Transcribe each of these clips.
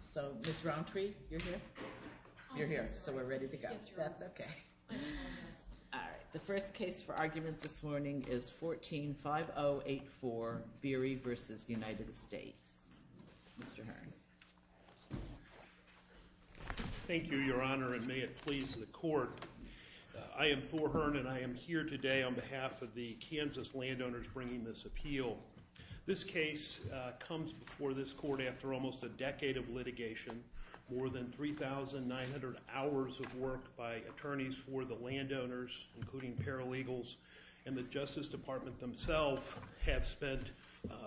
So, Ms. Rountree, you're here? You're here, so we're ready to go. That's okay. The first case for argument this morning is 14-5084, Beery v. United States. Mr. Hearn. Thank you, Your Honor, and may it please the Court. I am Thor Hearn, and I am here today on behalf of the Kansas landowners bringing this appeal. This case comes before this Court after almost a decade of litigation, more than 3,900 hours of work by attorneys for the landowners, including paralegals, and the Justice Department themselves have spent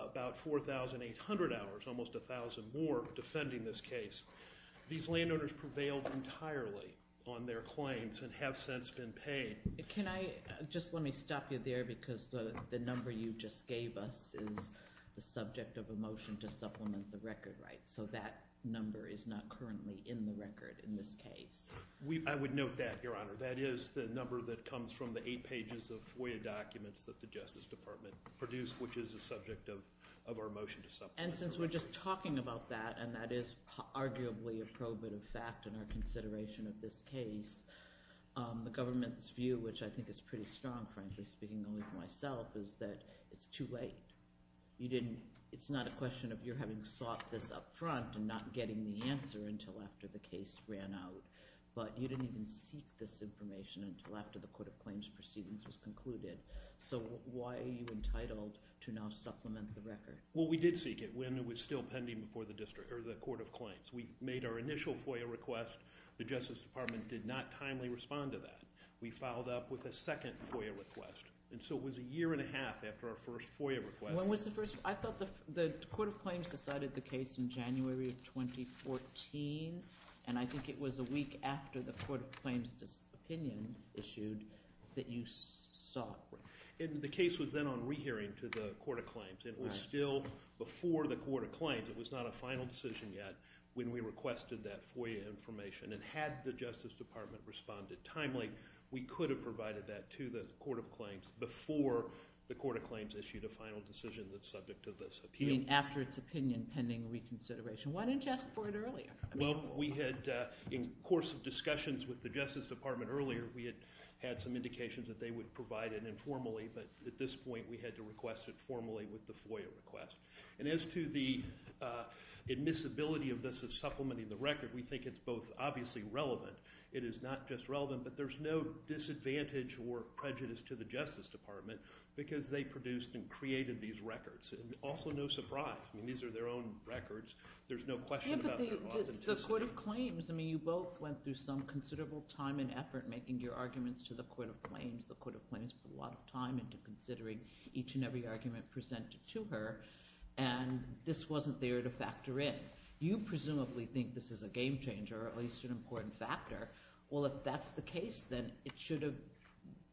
about 4,800 hours, almost 1,000 more, defending this case. These landowners prevailed entirely on their claims and have since been paid. Can I just let me stop you there because the number you just gave us is the subject of a motion to supplement the record, right? So that number is not currently in the record in this case. I would note that, Your Honor. That is the number that comes from the eight pages of FOIA documents that the Justice Department produced, which is the subject of our motion to supplement the record. And since we're just talking about that, and that is arguably a probative fact in our consideration of this case, the government's view, which I think is pretty strong, frankly speaking only for myself, is that it's too late. It's not a question of your having sought this up front and not getting the answer until after the case ran out, but you didn't even seek this information until after the Court of Claims proceedings was concluded. So why are you entitled to now supplement the record? Well, we did seek it when it was still pending before the Court of Claims. We made our initial FOIA request. The Justice Department did not timely respond to that. We filed up with a second FOIA request, and so it was a year and a half after our first FOIA request. When was the first? I thought the Court of Claims decided the case in January of 2014, and I think it was a week after the Court of Claims' opinion issued that you sought. The case was then on rehearing to the Court of Claims, and it was still before the Court of Claims. It was not a final decision yet when we requested that FOIA information. And had the Justice Department responded timely, we could have provided that to the Court of Claims before the Court of Claims issued a final decision that's subject to this appeal. You mean after its opinion pending reconsideration. Why didn't you ask for it earlier? Well, we had, in the course of discussions with the Justice Department earlier, we had had some indications that they would provide it informally, but at this point we had to request it formally with the FOIA request. And as to the admissibility of this as supplementing the record, we think it's both obviously relevant. It is not just relevant, but there's no disadvantage or prejudice to the Justice Department because they produced and created these records, and also no surprise. I mean these are their own records. There's no question about their authenticity. Yeah, but the Court of Claims, I mean you both went through some considerable time and effort making your arguments to the Court of Claims. The Court of Claims put a lot of time into considering each and every argument presented to her, and this wasn't there to factor in. You presumably think this is a game changer or at least an important factor. Well, if that's the case, then it should have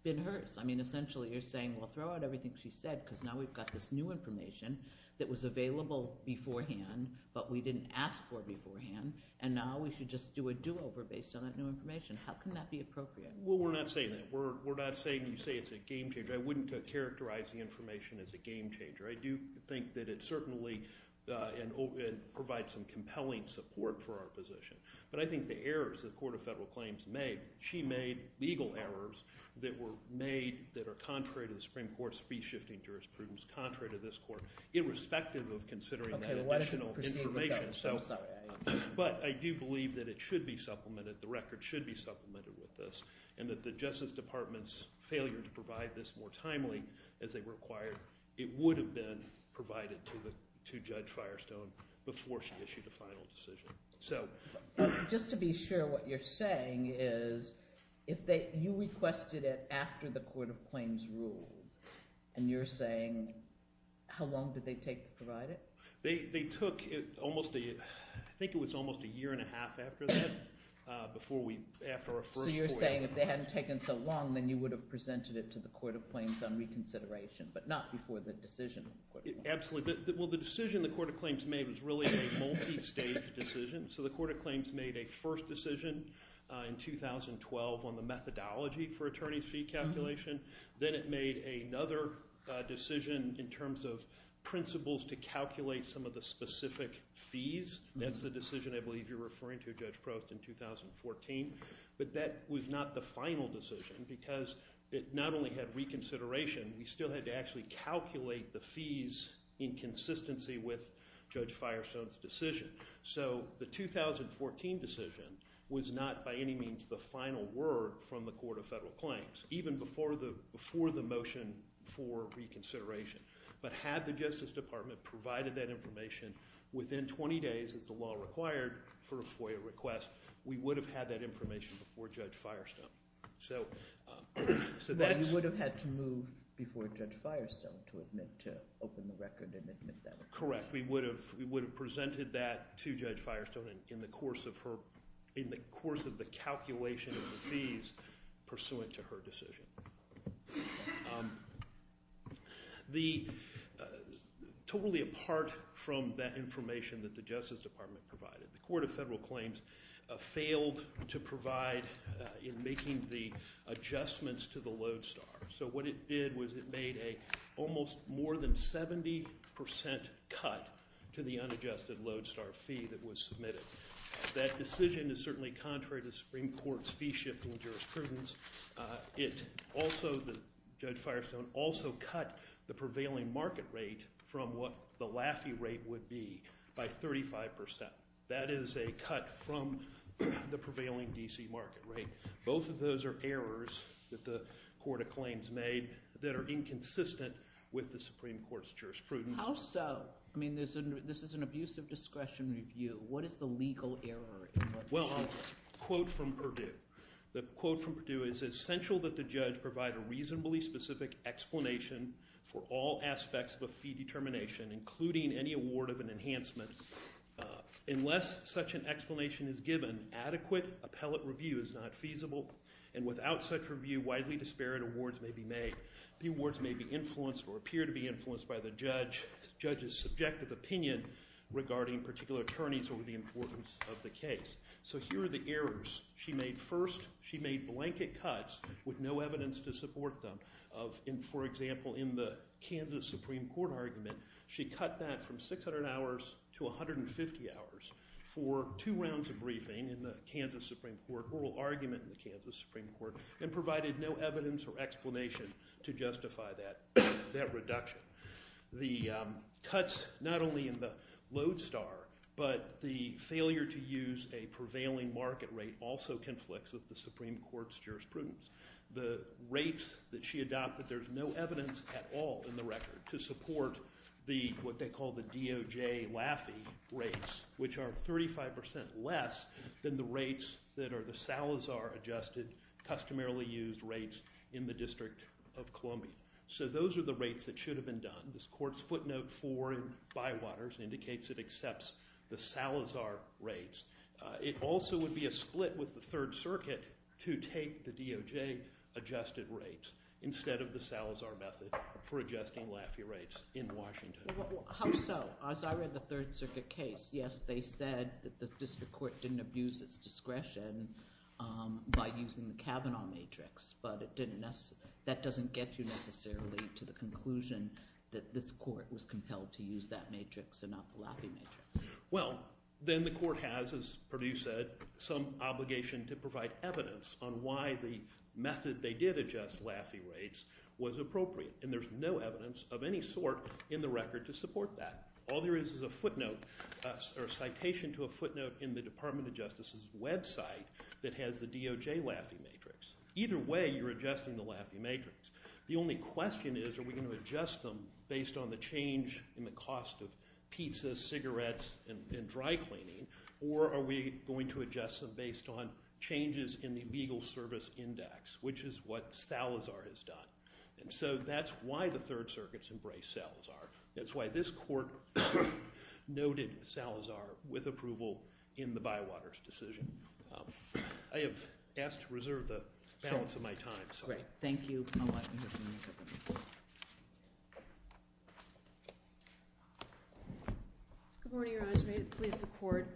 been hers. I mean essentially you're saying, well, throw out everything she said because now we've got this new information that was available beforehand but we didn't ask for beforehand, and now we should just do a do-over based on that new information. How can that be appropriate? Well, we're not saying that. We're not saying you say it's a game changer. I wouldn't characterize the information as a game changer. I do think that it certainly provides some compelling support for our position. But I think the errors the Court of Federal Claims made, she made legal errors that were made that are contrary to the Supreme Court's fee-shifting jurisprudence, contrary to this court, irrespective of considering that additional information. But I do believe that it should be supplemented, the record should be supplemented with this, and that the Justice Department's failure to provide this more timely as they required, it would have been provided to Judge Firestone before she issued a final decision. Just to be sure, what you're saying is if you requested it after the Court of Claims ruled and you're saying how long did they take to provide it? They took almost a year and a half after that before we – after our first – So you're saying if they hadn't taken so long, then you would have presented it to the Court of Claims on reconsideration, but not before the decision of the Court of Claims. Absolutely. Well, the decision the Court of Claims made was really a multi-stage decision. So the Court of Claims made a first decision in 2012 on the methodology for attorney's fee calculation. Then it made another decision in terms of principles to calculate some of the specific fees. That's the decision I believe you're referring to, Judge Prost, in 2014. But that was not the final decision because it not only had reconsideration, we still had to actually calculate the fees in consistency with Judge Firestone's decision. So the 2014 decision was not by any means the final word from the Court of Federal Claims, even before the motion for reconsideration. But had the Justice Department provided that information within 20 days, as the law required for a FOIA request, we would have had that information before Judge Firestone. So that's – You would have had to move before Judge Firestone to admit – to open the record and admit that. Correct. We would have presented that to Judge Firestone in the course of her – in the course of the calculation of the fees pursuant to her decision. The – totally apart from that information that the Justice Department provided, the Court of Federal Claims failed to provide in making the adjustments to the Lodestar. So what it did was it made an almost more than 70% cut to the unadjusted Lodestar fee that was submitted. That decision is certainly contrary to Supreme Court's fee-shifting jurisprudence. It also – Judge Firestone also cut the prevailing market rate from what the Laffey rate would be by 35%. That is a cut from the prevailing D.C. market rate. Both of those are errors that the Court of Claims made that are inconsistent with the Supreme Court's jurisprudence. How so? I mean there's – this is an abusive discretion review. What is the legal error in Lodestar? Well, a quote from Perdue. The quote from Perdue is, It's essential that the judge provide a reasonably specific explanation for all aspects of a fee determination, including any award of an enhancement. Unless such an explanation is given, adequate appellate review is not feasible, and without such review, widely disparate awards may be made. The awards may be influenced or appear to be influenced by the judge's subjective opinion regarding particular attorneys or the importance of the case. So here are the errors she made. First, she made blanket cuts with no evidence to support them. For example, in the Kansas Supreme Court argument, she cut that from 600 hours to 150 hours for two rounds of briefing in the Kansas Supreme Court, oral argument in the Kansas Supreme Court, and provided no evidence or explanation to justify that reduction. The cuts not only in the Lodestar, but the failure to use a prevailing market rate also conflicts with the Supreme Court's jurisprudence. The rates that she adopted, there's no evidence at all in the record to support the – what they call the DOJ Laffey rates, which are 35% less than the rates that are the Salazar adjusted, customarily used rates in the District of Columbia. So those are the rates that should have been done. This court's footnote 4 in Bywaters indicates it accepts the Salazar rates. It also would be a split with the Third Circuit to take the DOJ adjusted rates instead of the Salazar method for adjusting Laffey rates in Washington. How so? As I read the Third Circuit case, yes, they said that the district court didn't abuse its discretion by using the Kavanaugh matrix, but it didn't – that doesn't get you necessarily to the conclusion that this court was compelled to use that matrix and not the Laffey matrix. Well, then the court has, as Perdue said, some obligation to provide evidence on why the method they did adjust Laffey rates was appropriate, and there's no evidence of any sort in the record to support that. All there is is a footnote or citation to a footnote in the Department of Justice's website that has the DOJ Laffey matrix. Either way, you're adjusting the Laffey matrix. The only question is are we going to adjust them based on the change in the cost of pizza, cigarettes, and dry cleaning, or are we going to adjust them based on changes in the legal service index, which is what Salazar has done. And so that's why the Third Circuit's embraced Salazar. That's why this court noted Salazar with approval in the Bywaters decision. I have asked to reserve the balance of my time. Great. Thank you. Good morning, Your Honor. May it please the Court.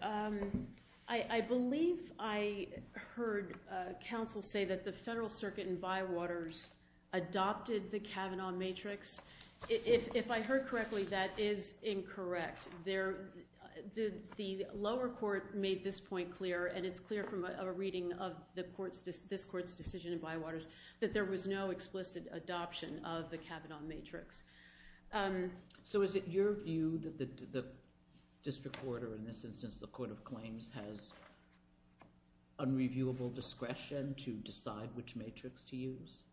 I believe I heard counsel say that the Federal Circuit in Bywaters adopted the Kavanaugh matrix. If I heard correctly, that is incorrect. The lower court made this point clear, and it's clear from a reading of this court's decision in Bywaters, that there was no explicit adoption of the Kavanaugh matrix. So is it your view that the district court, or in this instance the court of claims, has unreviewable discretion to decide which matrix to use?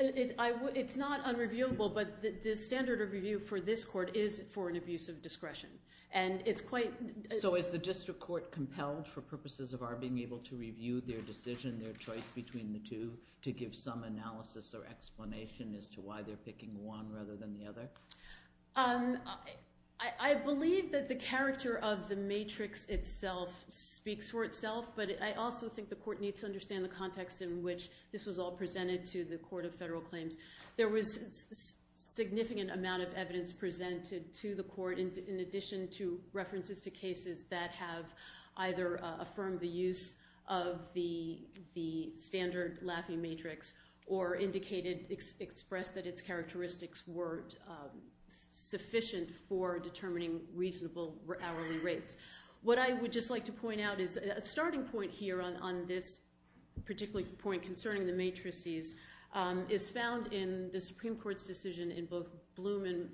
It's not unreviewable, but the standard of review for this court is for an abuse of discretion. So is the district court compelled, for purposes of our being able to review their decision, their choice between the two, to give some analysis or explanation as to why they're picking one rather than the other? I believe that the character of the matrix itself speaks for itself, but I also think the court needs to understand the context in which this was all presented to the court of federal claims. There was significant amount of evidence presented to the court, in addition to references to cases that have either affirmed the use of the standard Laffey matrix or expressed that its characteristics were sufficient for determining reasonable hourly rates. What I would just like to point out is a starting point here on this particular point concerning the matrices is found in the Supreme Court's decision in both Blum and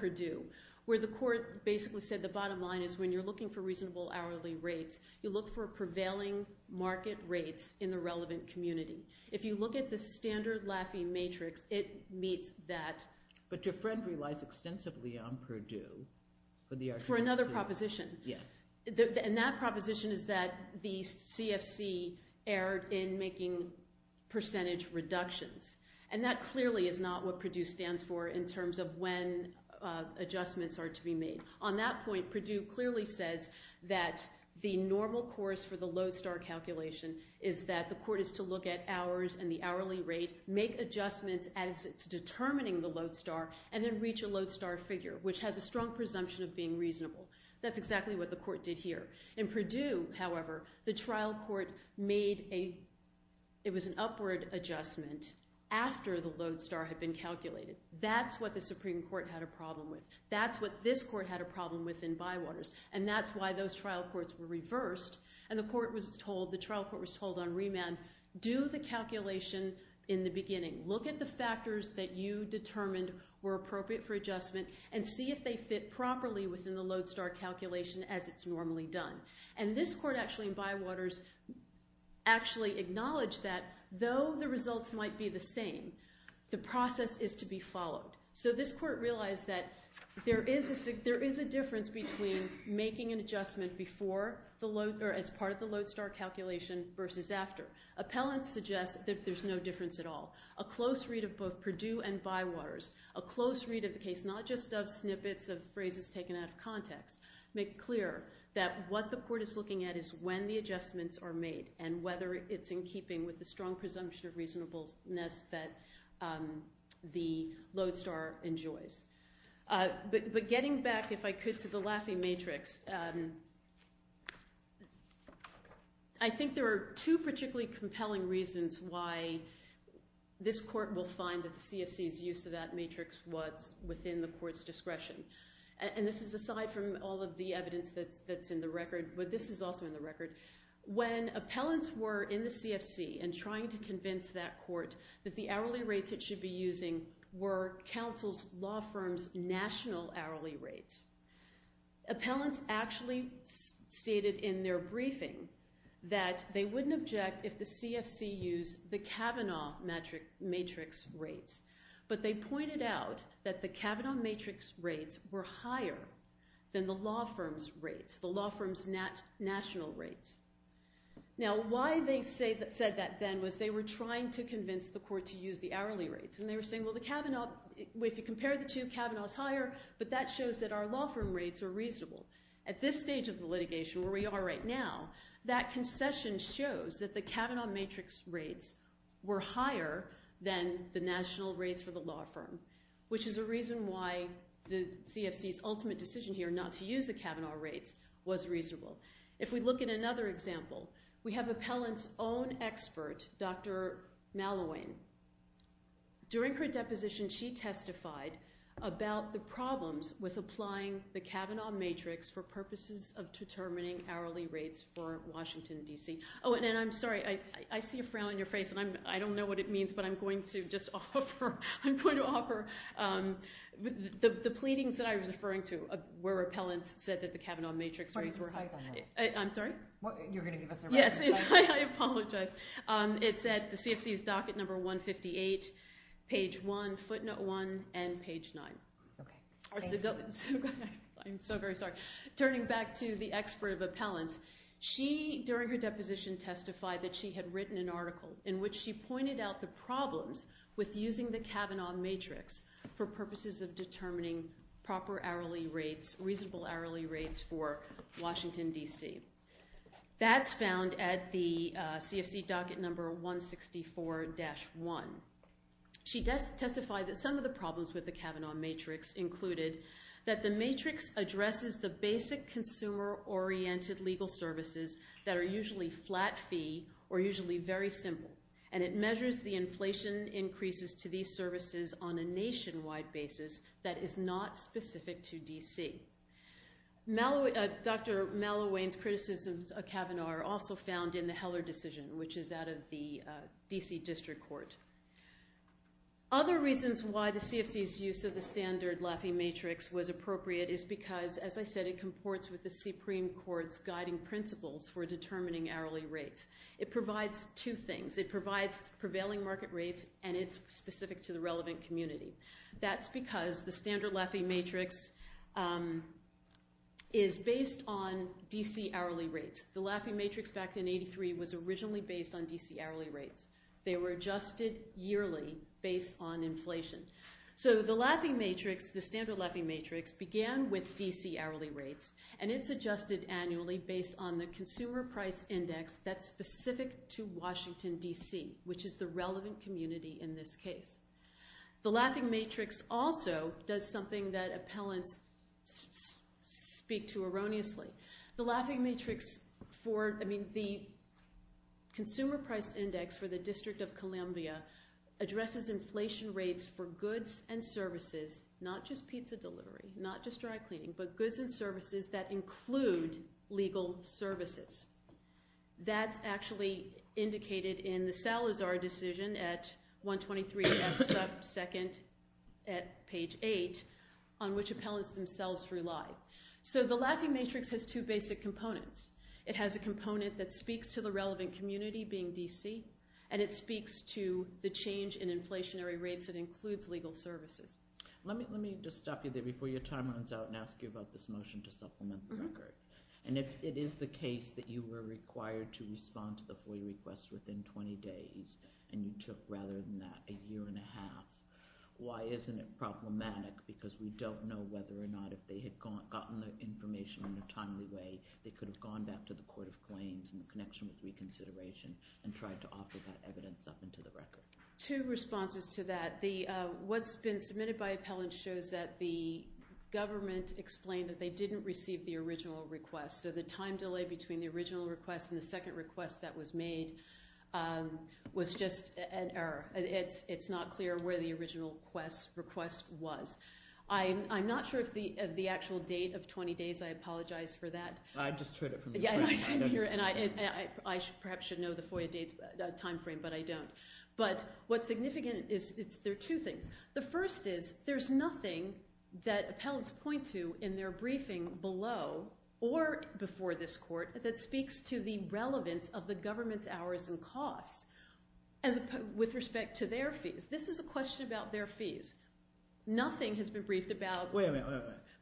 Purdue, where the court basically said the bottom line is when you're looking for reasonable hourly rates, you look for prevailing market rates in the relevant community. If you look at the standard Laffey matrix, it meets that. But Dufresne relies extensively on Purdue for the argument. For another proposition. Yeah. And that proposition is that the CFC erred in making percentage reductions, and that clearly is not what Purdue stands for in terms of when adjustments are to be made. On that point, Purdue clearly says that the normal course for the Lowe's star calculation is that the court is to look at hours and the hourly rate, make adjustments as it's determining the Lowe's star, and then reach a Lowe's star figure, which has a strong presumption of being reasonable. That's exactly what the court did here. In Purdue, however, the trial court made an upward adjustment after the Lowe's star had been calculated. That's what the Supreme Court had a problem with. That's what this court had a problem with in Bywaters, and that's why those trial courts were reversed, and the trial court was told on remand, do the calculation in the beginning. Look at the factors that you determined were appropriate for adjustment and see if they fit properly within the Lowe's star calculation as it's normally done. And this court actually in Bywaters actually acknowledged that though the results might be the same, the process is to be followed. So this court realized that there is a difference between making an adjustment as part of the Lowe's star calculation versus after. Appellants suggest that there's no difference at all. A close read of both Purdue and Bywaters, a close read of the case, not just of snippets of phrases taken out of context, make clear that what the court is looking at is when the adjustments are made and whether it's in keeping with the strong presumption of reasonableness that the Lowe's star enjoys. But getting back, if I could, to the Laffey matrix, I think there are two particularly compelling reasons why this court will find that the CFC's use of that matrix was within the court's discretion. And this is aside from all of the evidence that's in the record, but this is also in the record. When appellants were in the CFC and trying to convince that court that the hourly rates it should be using were counsel's law firm's national hourly rates, appellants actually stated in their briefing that they wouldn't object if the CFC used the Kavanaugh matrix rates. But they pointed out that the Kavanaugh matrix rates were higher than the law firm's rates, the law firm's national rates. Now, why they said that then was they were trying to convince the court to use the hourly rates. And they were saying, well, if you compare the two, Kavanaugh's higher, but that shows that our law firm rates are reasonable. At this stage of the litigation, where we are right now, that concession shows that the Kavanaugh matrix rates were higher than the national rates for the law firm, which is a reason why the CFC's ultimate decision here not to use the Kavanaugh rates was reasonable. If we look at another example, we have appellant's own expert, Dr. Mallowane. During her deposition, she testified about the problems with applying the Kavanaugh matrix for purposes of determining hourly rates for Washington, D.C. Oh, and I'm sorry, I see a frown on your face, and I don't know what it means, but I'm going to just offer, I'm going to offer the pleadings that I was referring to, where appellants said that the Kavanaugh matrix rates were higher. I'm sorry? You're going to give us a reference? Yes, I apologize. It's at the CFC's docket number 158, page 1, footnote 1, and page 9. Okay. I'm so very sorry. Turning back to the expert of appellants, she, during her deposition, testified that she had written an article in which she pointed out the problems with using the Kavanaugh matrix for purposes of determining proper hourly rates, reasonable hourly rates for Washington, D.C. That's found at the CFC docket number 164-1. She testified that some of the problems with the Kavanaugh matrix included that the matrix addresses the basic consumer-oriented legal services that are usually flat fee or usually very simple, and it measures the inflation increases to these services on a nationwide basis that is not specific to D.C. Dr. Mallowayne's criticisms of Kavanaugh are also found in the Heller decision, which is out of the D.C. District Court. Other reasons why the CFC's use of the standard Laffey matrix was appropriate is because, as I said, it comports with the Supreme Court's guiding principles for determining hourly rates. It provides two things. It provides prevailing market rates, and it's specific to the relevant community. That's because the standard Laffey matrix is based on D.C. hourly rates. The Laffey matrix back in 1983 was originally based on D.C. hourly rates. They were adjusted yearly based on inflation. So the Laffey matrix, the standard Laffey matrix, began with D.C. hourly rates, and it's adjusted annually based on the consumer price index that's specific to Washington, D.C., which is the relevant community in this case. The Laffey matrix also does something that appellants speak to erroneously. The Laffey matrix for – I mean the consumer price index for the District of Columbia addresses inflation rates for goods and services, not just pizza delivery, not just dry cleaning, but goods and services that include legal services. That's actually indicated in the Salazar decision at 123F sub 2nd at page 8 on which appellants themselves rely. So the Laffey matrix has two basic components. It has a component that speaks to the relevant community, being D.C., and it speaks to the change in inflationary rates that includes legal services. Let me just stop you there before your time runs out and ask you about this motion to supplement the record. And if it is the case that you were required to respond to the FOIA request within 20 days and you took rather than that a year and a half, why isn't it problematic? Because we don't know whether or not if they had gotten the information in a timely way they could have gone back to the court of claims in connection with reconsideration and tried to offer that evidence up into the record. Two responses to that. What's been submitted by appellants shows that the government explained that they didn't receive the original request. So the time delay between the original request and the second request that was made was just an error. It's not clear where the original request was. I'm not sure of the actual date of 20 days. I apologize for that. I just heard it from you. I perhaps should know the FOIA date timeframe, but I don't. But what's significant is there are two things. The first is there's nothing that appellants point to in their briefing below or before this court that speaks to the relevance of the government's hours and costs with respect to their fees. This is a question about their fees. Nothing has been briefed about – Wait a minute.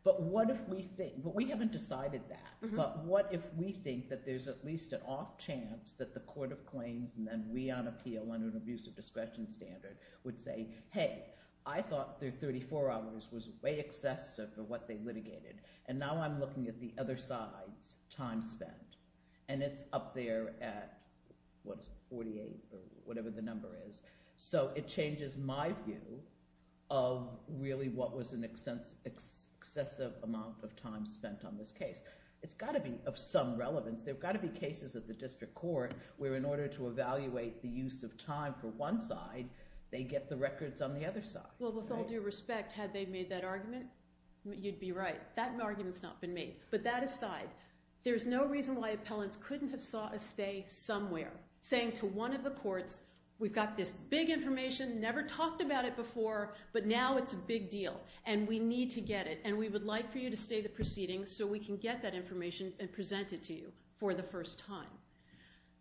But what if we think – but we haven't decided that. But what if we think that there's at least an off chance that the court of claims and then we on appeal under an abusive discretion standard would say, Hey, I thought their 34 hours was way excessive for what they litigated, and now I'm looking at the other side's time spent, and it's up there at, what, 48 or whatever the number is. So it changes my view of really what was an excessive amount of time spent on this case. It's got to be of some relevance. There have got to be cases at the district court where in order to evaluate the use of time for one side, they get the records on the other side. Well, with all due respect, had they made that argument, you'd be right. That argument's not been made. But that aside, there's no reason why appellants couldn't have sought a stay somewhere saying to one of the courts, We've got this big information, never talked about it before, but now it's a big deal, and we need to get it, and we would like for you to stay the proceedings so we can get that information and present it to you for the first time.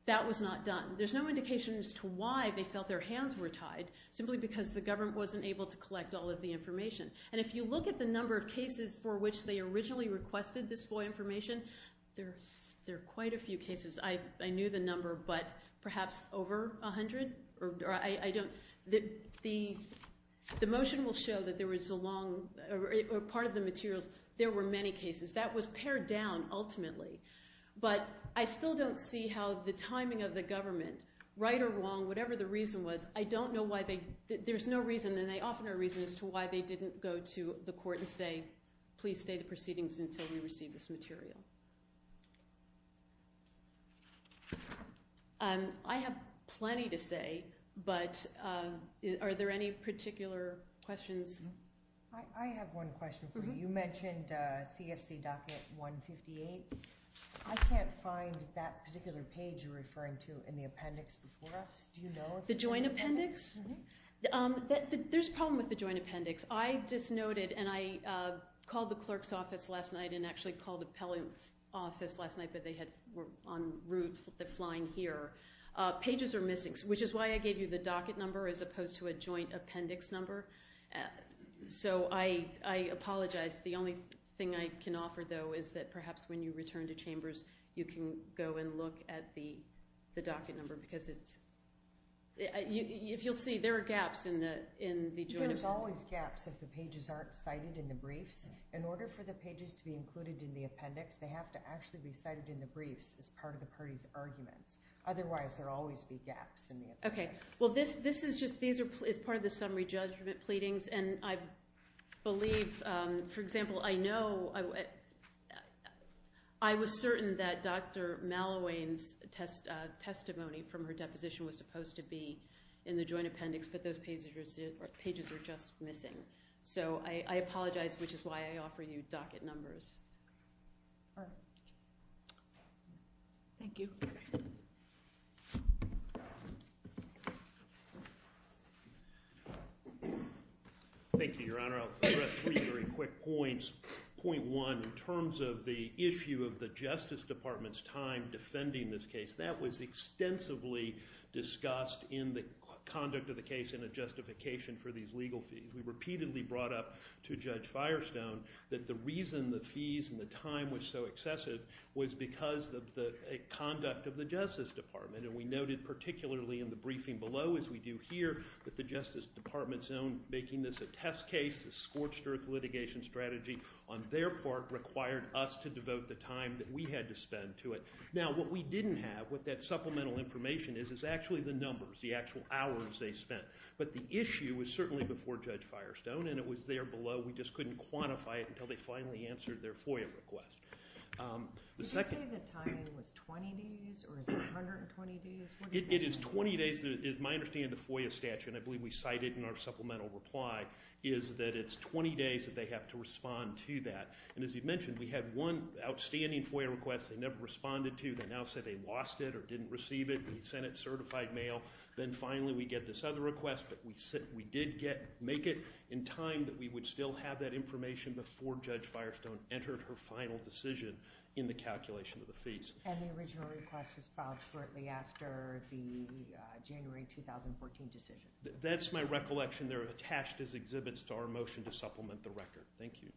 That was not done. There's no indication as to why they felt their hands were tied, simply because the government wasn't able to collect all of the information. And if you look at the number of cases for which they originally requested this FOIA information, there are quite a few cases. I knew the number, but perhaps over 100? The motion will show that there was a long part of the materials. There were many cases. That was pared down ultimately. But I still don't see how the timing of the government, right or wrong, whatever the reason was, I don't know why they – there's no reason, and they often are a reason as to why they didn't go to the court and say, Please stay the proceedings until we receive this material. I have plenty to say, but are there any particular questions? I have one question for you. You mentioned CFC docket 158. I can't find that particular page you're referring to in the appendix before us. Do you know if it's there? The joint appendix? Mm-hmm. There's a problem with the joint appendix. I just noted, and I called the clerk's office last night and actually called the appellant's office last night, but they were en route, they're flying here. Pages are missing, which is why I gave you the docket number as opposed to a joint appendix number. So I apologize. The only thing I can offer, though, is that perhaps when you return to chambers, you can go and look at the docket number because it's – if you'll see, there are gaps in the joint appendix. There's always gaps if the pages aren't cited in the briefs. In order for the pages to be included in the appendix, they have to actually be cited in the briefs as part of the party's arguments. Otherwise, there will always be gaps in the appendix. Okay. Well, this is just part of the summary judgment pleadings, and I believe, for example, I know I was certain that Dr. Mallowayne's testimony from her deposition was supposed to be in the joint appendix, but those pages are just missing. So I apologize, which is why I offer you docket numbers. Thank you. Thank you, Your Honor. I'll address three very quick points. Point one, in terms of the issue of the Justice Department's time defending this case, that was extensively discussed in the conduct of the case in a justification for these legal fees. We repeatedly brought up to Judge Firestone that the reason the fees and the time was so excessive was because of the conduct of the Justice Department. And we noted particularly in the briefing below, as we do here, that the Justice Department's own making this a test case, a scorched earth litigation strategy, on their part required us to devote the time that we had to spend to it. Now, what we didn't have, what that supplemental information is, is actually the numbers, the actual hours they spent. But the issue was certainly before Judge Firestone, and it was there below. We just couldn't quantify it until they finally answered their FOIA request. Did you say the timing was 20 days or is it 120 days? It is 20 days. It is my understanding the FOIA statute, and I believe we cite it in our supplemental reply, is that it's 20 days that they have to respond to that. And as you mentioned, we had one outstanding FOIA request. They never responded to it. They now say they lost it or didn't receive it. We sent it certified mail. Then finally we get this other request, but we did make it in time that we would still have that information before Judge Firestone entered her final decision in the calculation of the fees. And the original request was filed shortly after the January 2014 decision. That's my recollection. They're attached as exhibits to our motion to supplement the record. Thank you,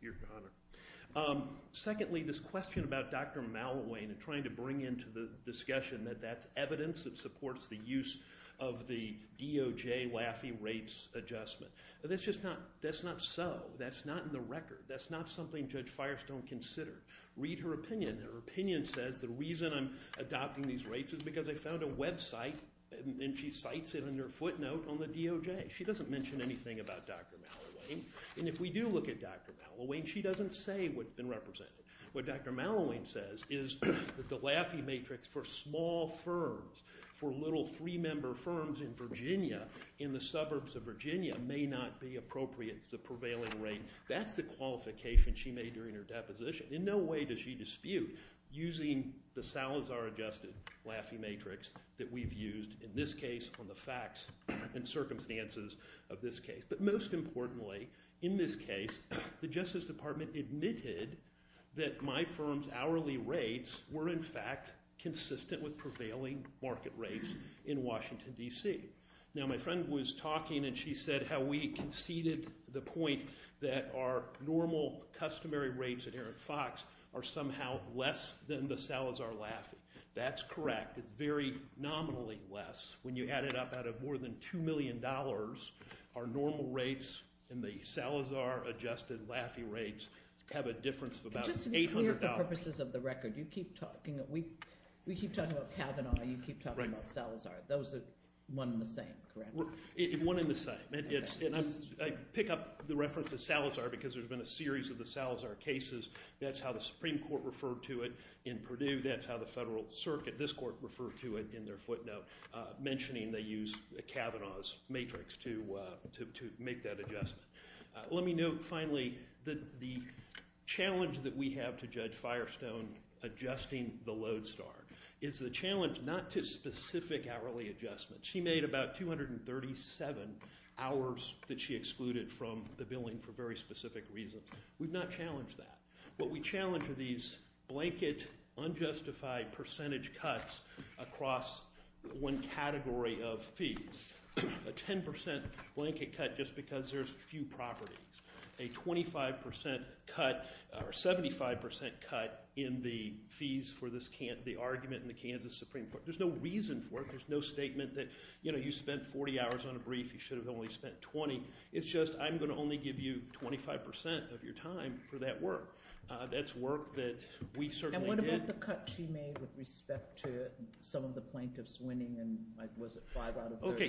Your Honor. Secondly, this question about Dr. Malloway and trying to bring into the discussion that that's evidence that supports the use of the DOJ WAFI rates adjustment. That's just not so. That's not in the record. That's not something Judge Firestone considered. Read her opinion. Her opinion says the reason I'm adopting these rates is because I found a website, and she cites it in her footnote on the DOJ. She doesn't mention anything about Dr. Malloway. And if we do look at Dr. Malloway, she doesn't say what's been represented. What Dr. Malloway says is that the LAFI matrix for small firms, for little three-member firms in Virginia, in the suburbs of Virginia, may not be appropriate to the prevailing rate. That's the qualification she made during her deposition. In no way does she dispute using the Salazar adjusted LAFI matrix that we've used, in this case, on the facts and circumstances of this case. But most importantly, in this case, the Justice Department admitted that my firm's hourly rates were, in fact, consistent with prevailing market rates in Washington, D.C. Now, my friend was talking, and she said how we conceded the point that our normal customary rates at Eric Fox are somehow less than the Salazar LAFI. That's correct. It's very nominally less. When you add it up, out of more than $2 million, our normal rates and the Salazar adjusted LAFI rates have a difference of about $800. Just to be clear, for purposes of the record, you keep talking – we keep talking about Kavanaugh, you keep talking about Salazar. Those are one and the same, correct? One and the same. I pick up the reference to Salazar because there's been a series of the Salazar cases. That's how the Supreme Court referred to it in Purdue. That's how the Federal Circuit, this court, referred to it in their footnote, mentioning they used Kavanaugh's matrix to make that adjustment. Let me note, finally, that the challenge that we have to Judge Firestone adjusting the Lodestar is the challenge not to specific hourly adjustments. She made about 237 hours that she excluded from the billing for very specific reasons. We've not challenged that. What we challenge are these blanket, unjustified percentage cuts across one category of fees. A 10% blanket cut just because there's few properties. A 25% cut or 75% cut in the fees for the argument in the Kansas Supreme Court. There's no reason for it. There's no statement that you spent 40 hours on a brief. You should have only spent 20. It's just I'm going to only give you 25% of your time for that work. That's work that we certainly did. What about the cut she made with respect to some of the plaintiffs winning? Was it five out of 30?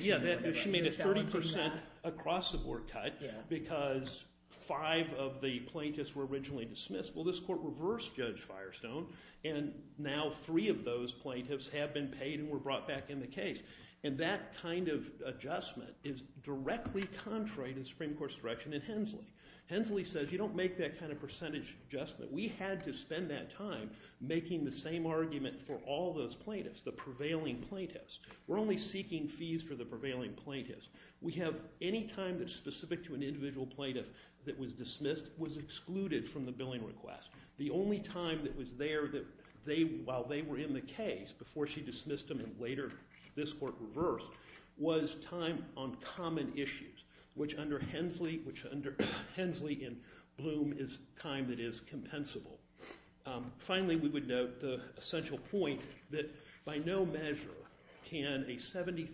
She made a 30% across-the-board cut because five of the plaintiffs were originally dismissed. Well, this court reversed Judge Firestone, and now three of those plaintiffs have been paid and were brought back in the case. And that kind of adjustment is directly contrary to the Supreme Court's direction in Hensley. Hensley says you don't make that kind of percentage adjustment. We had to spend that time making the same argument for all those plaintiffs, the prevailing plaintiffs. We're only seeking fees for the prevailing plaintiffs. We have any time that's specific to an individual plaintiff that was dismissed was excluded from the billing request. The only time that was there while they were in the case, before she dismissed them and later this court reversed, was time on common issues, which under Hensley and Bloom is time that is compensable. Finally, we would note the essential point that by no measure can a 73%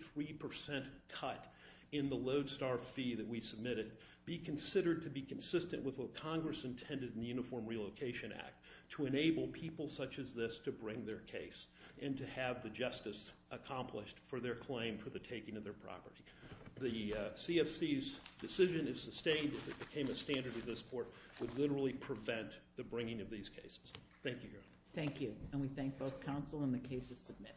cut in the Lodestar fee that we submitted be considered to be consistent with what Congress intended in the Uniform Relocation Act to enable people such as this to bring their case and to have the justice accomplished for their claim, for the taking of their property. The CFC's decision is sustained as it became a standard of this court would literally prevent the bringing of these cases. Thank you, Your Honor. Thank you, and we thank both counsel and the cases submitted.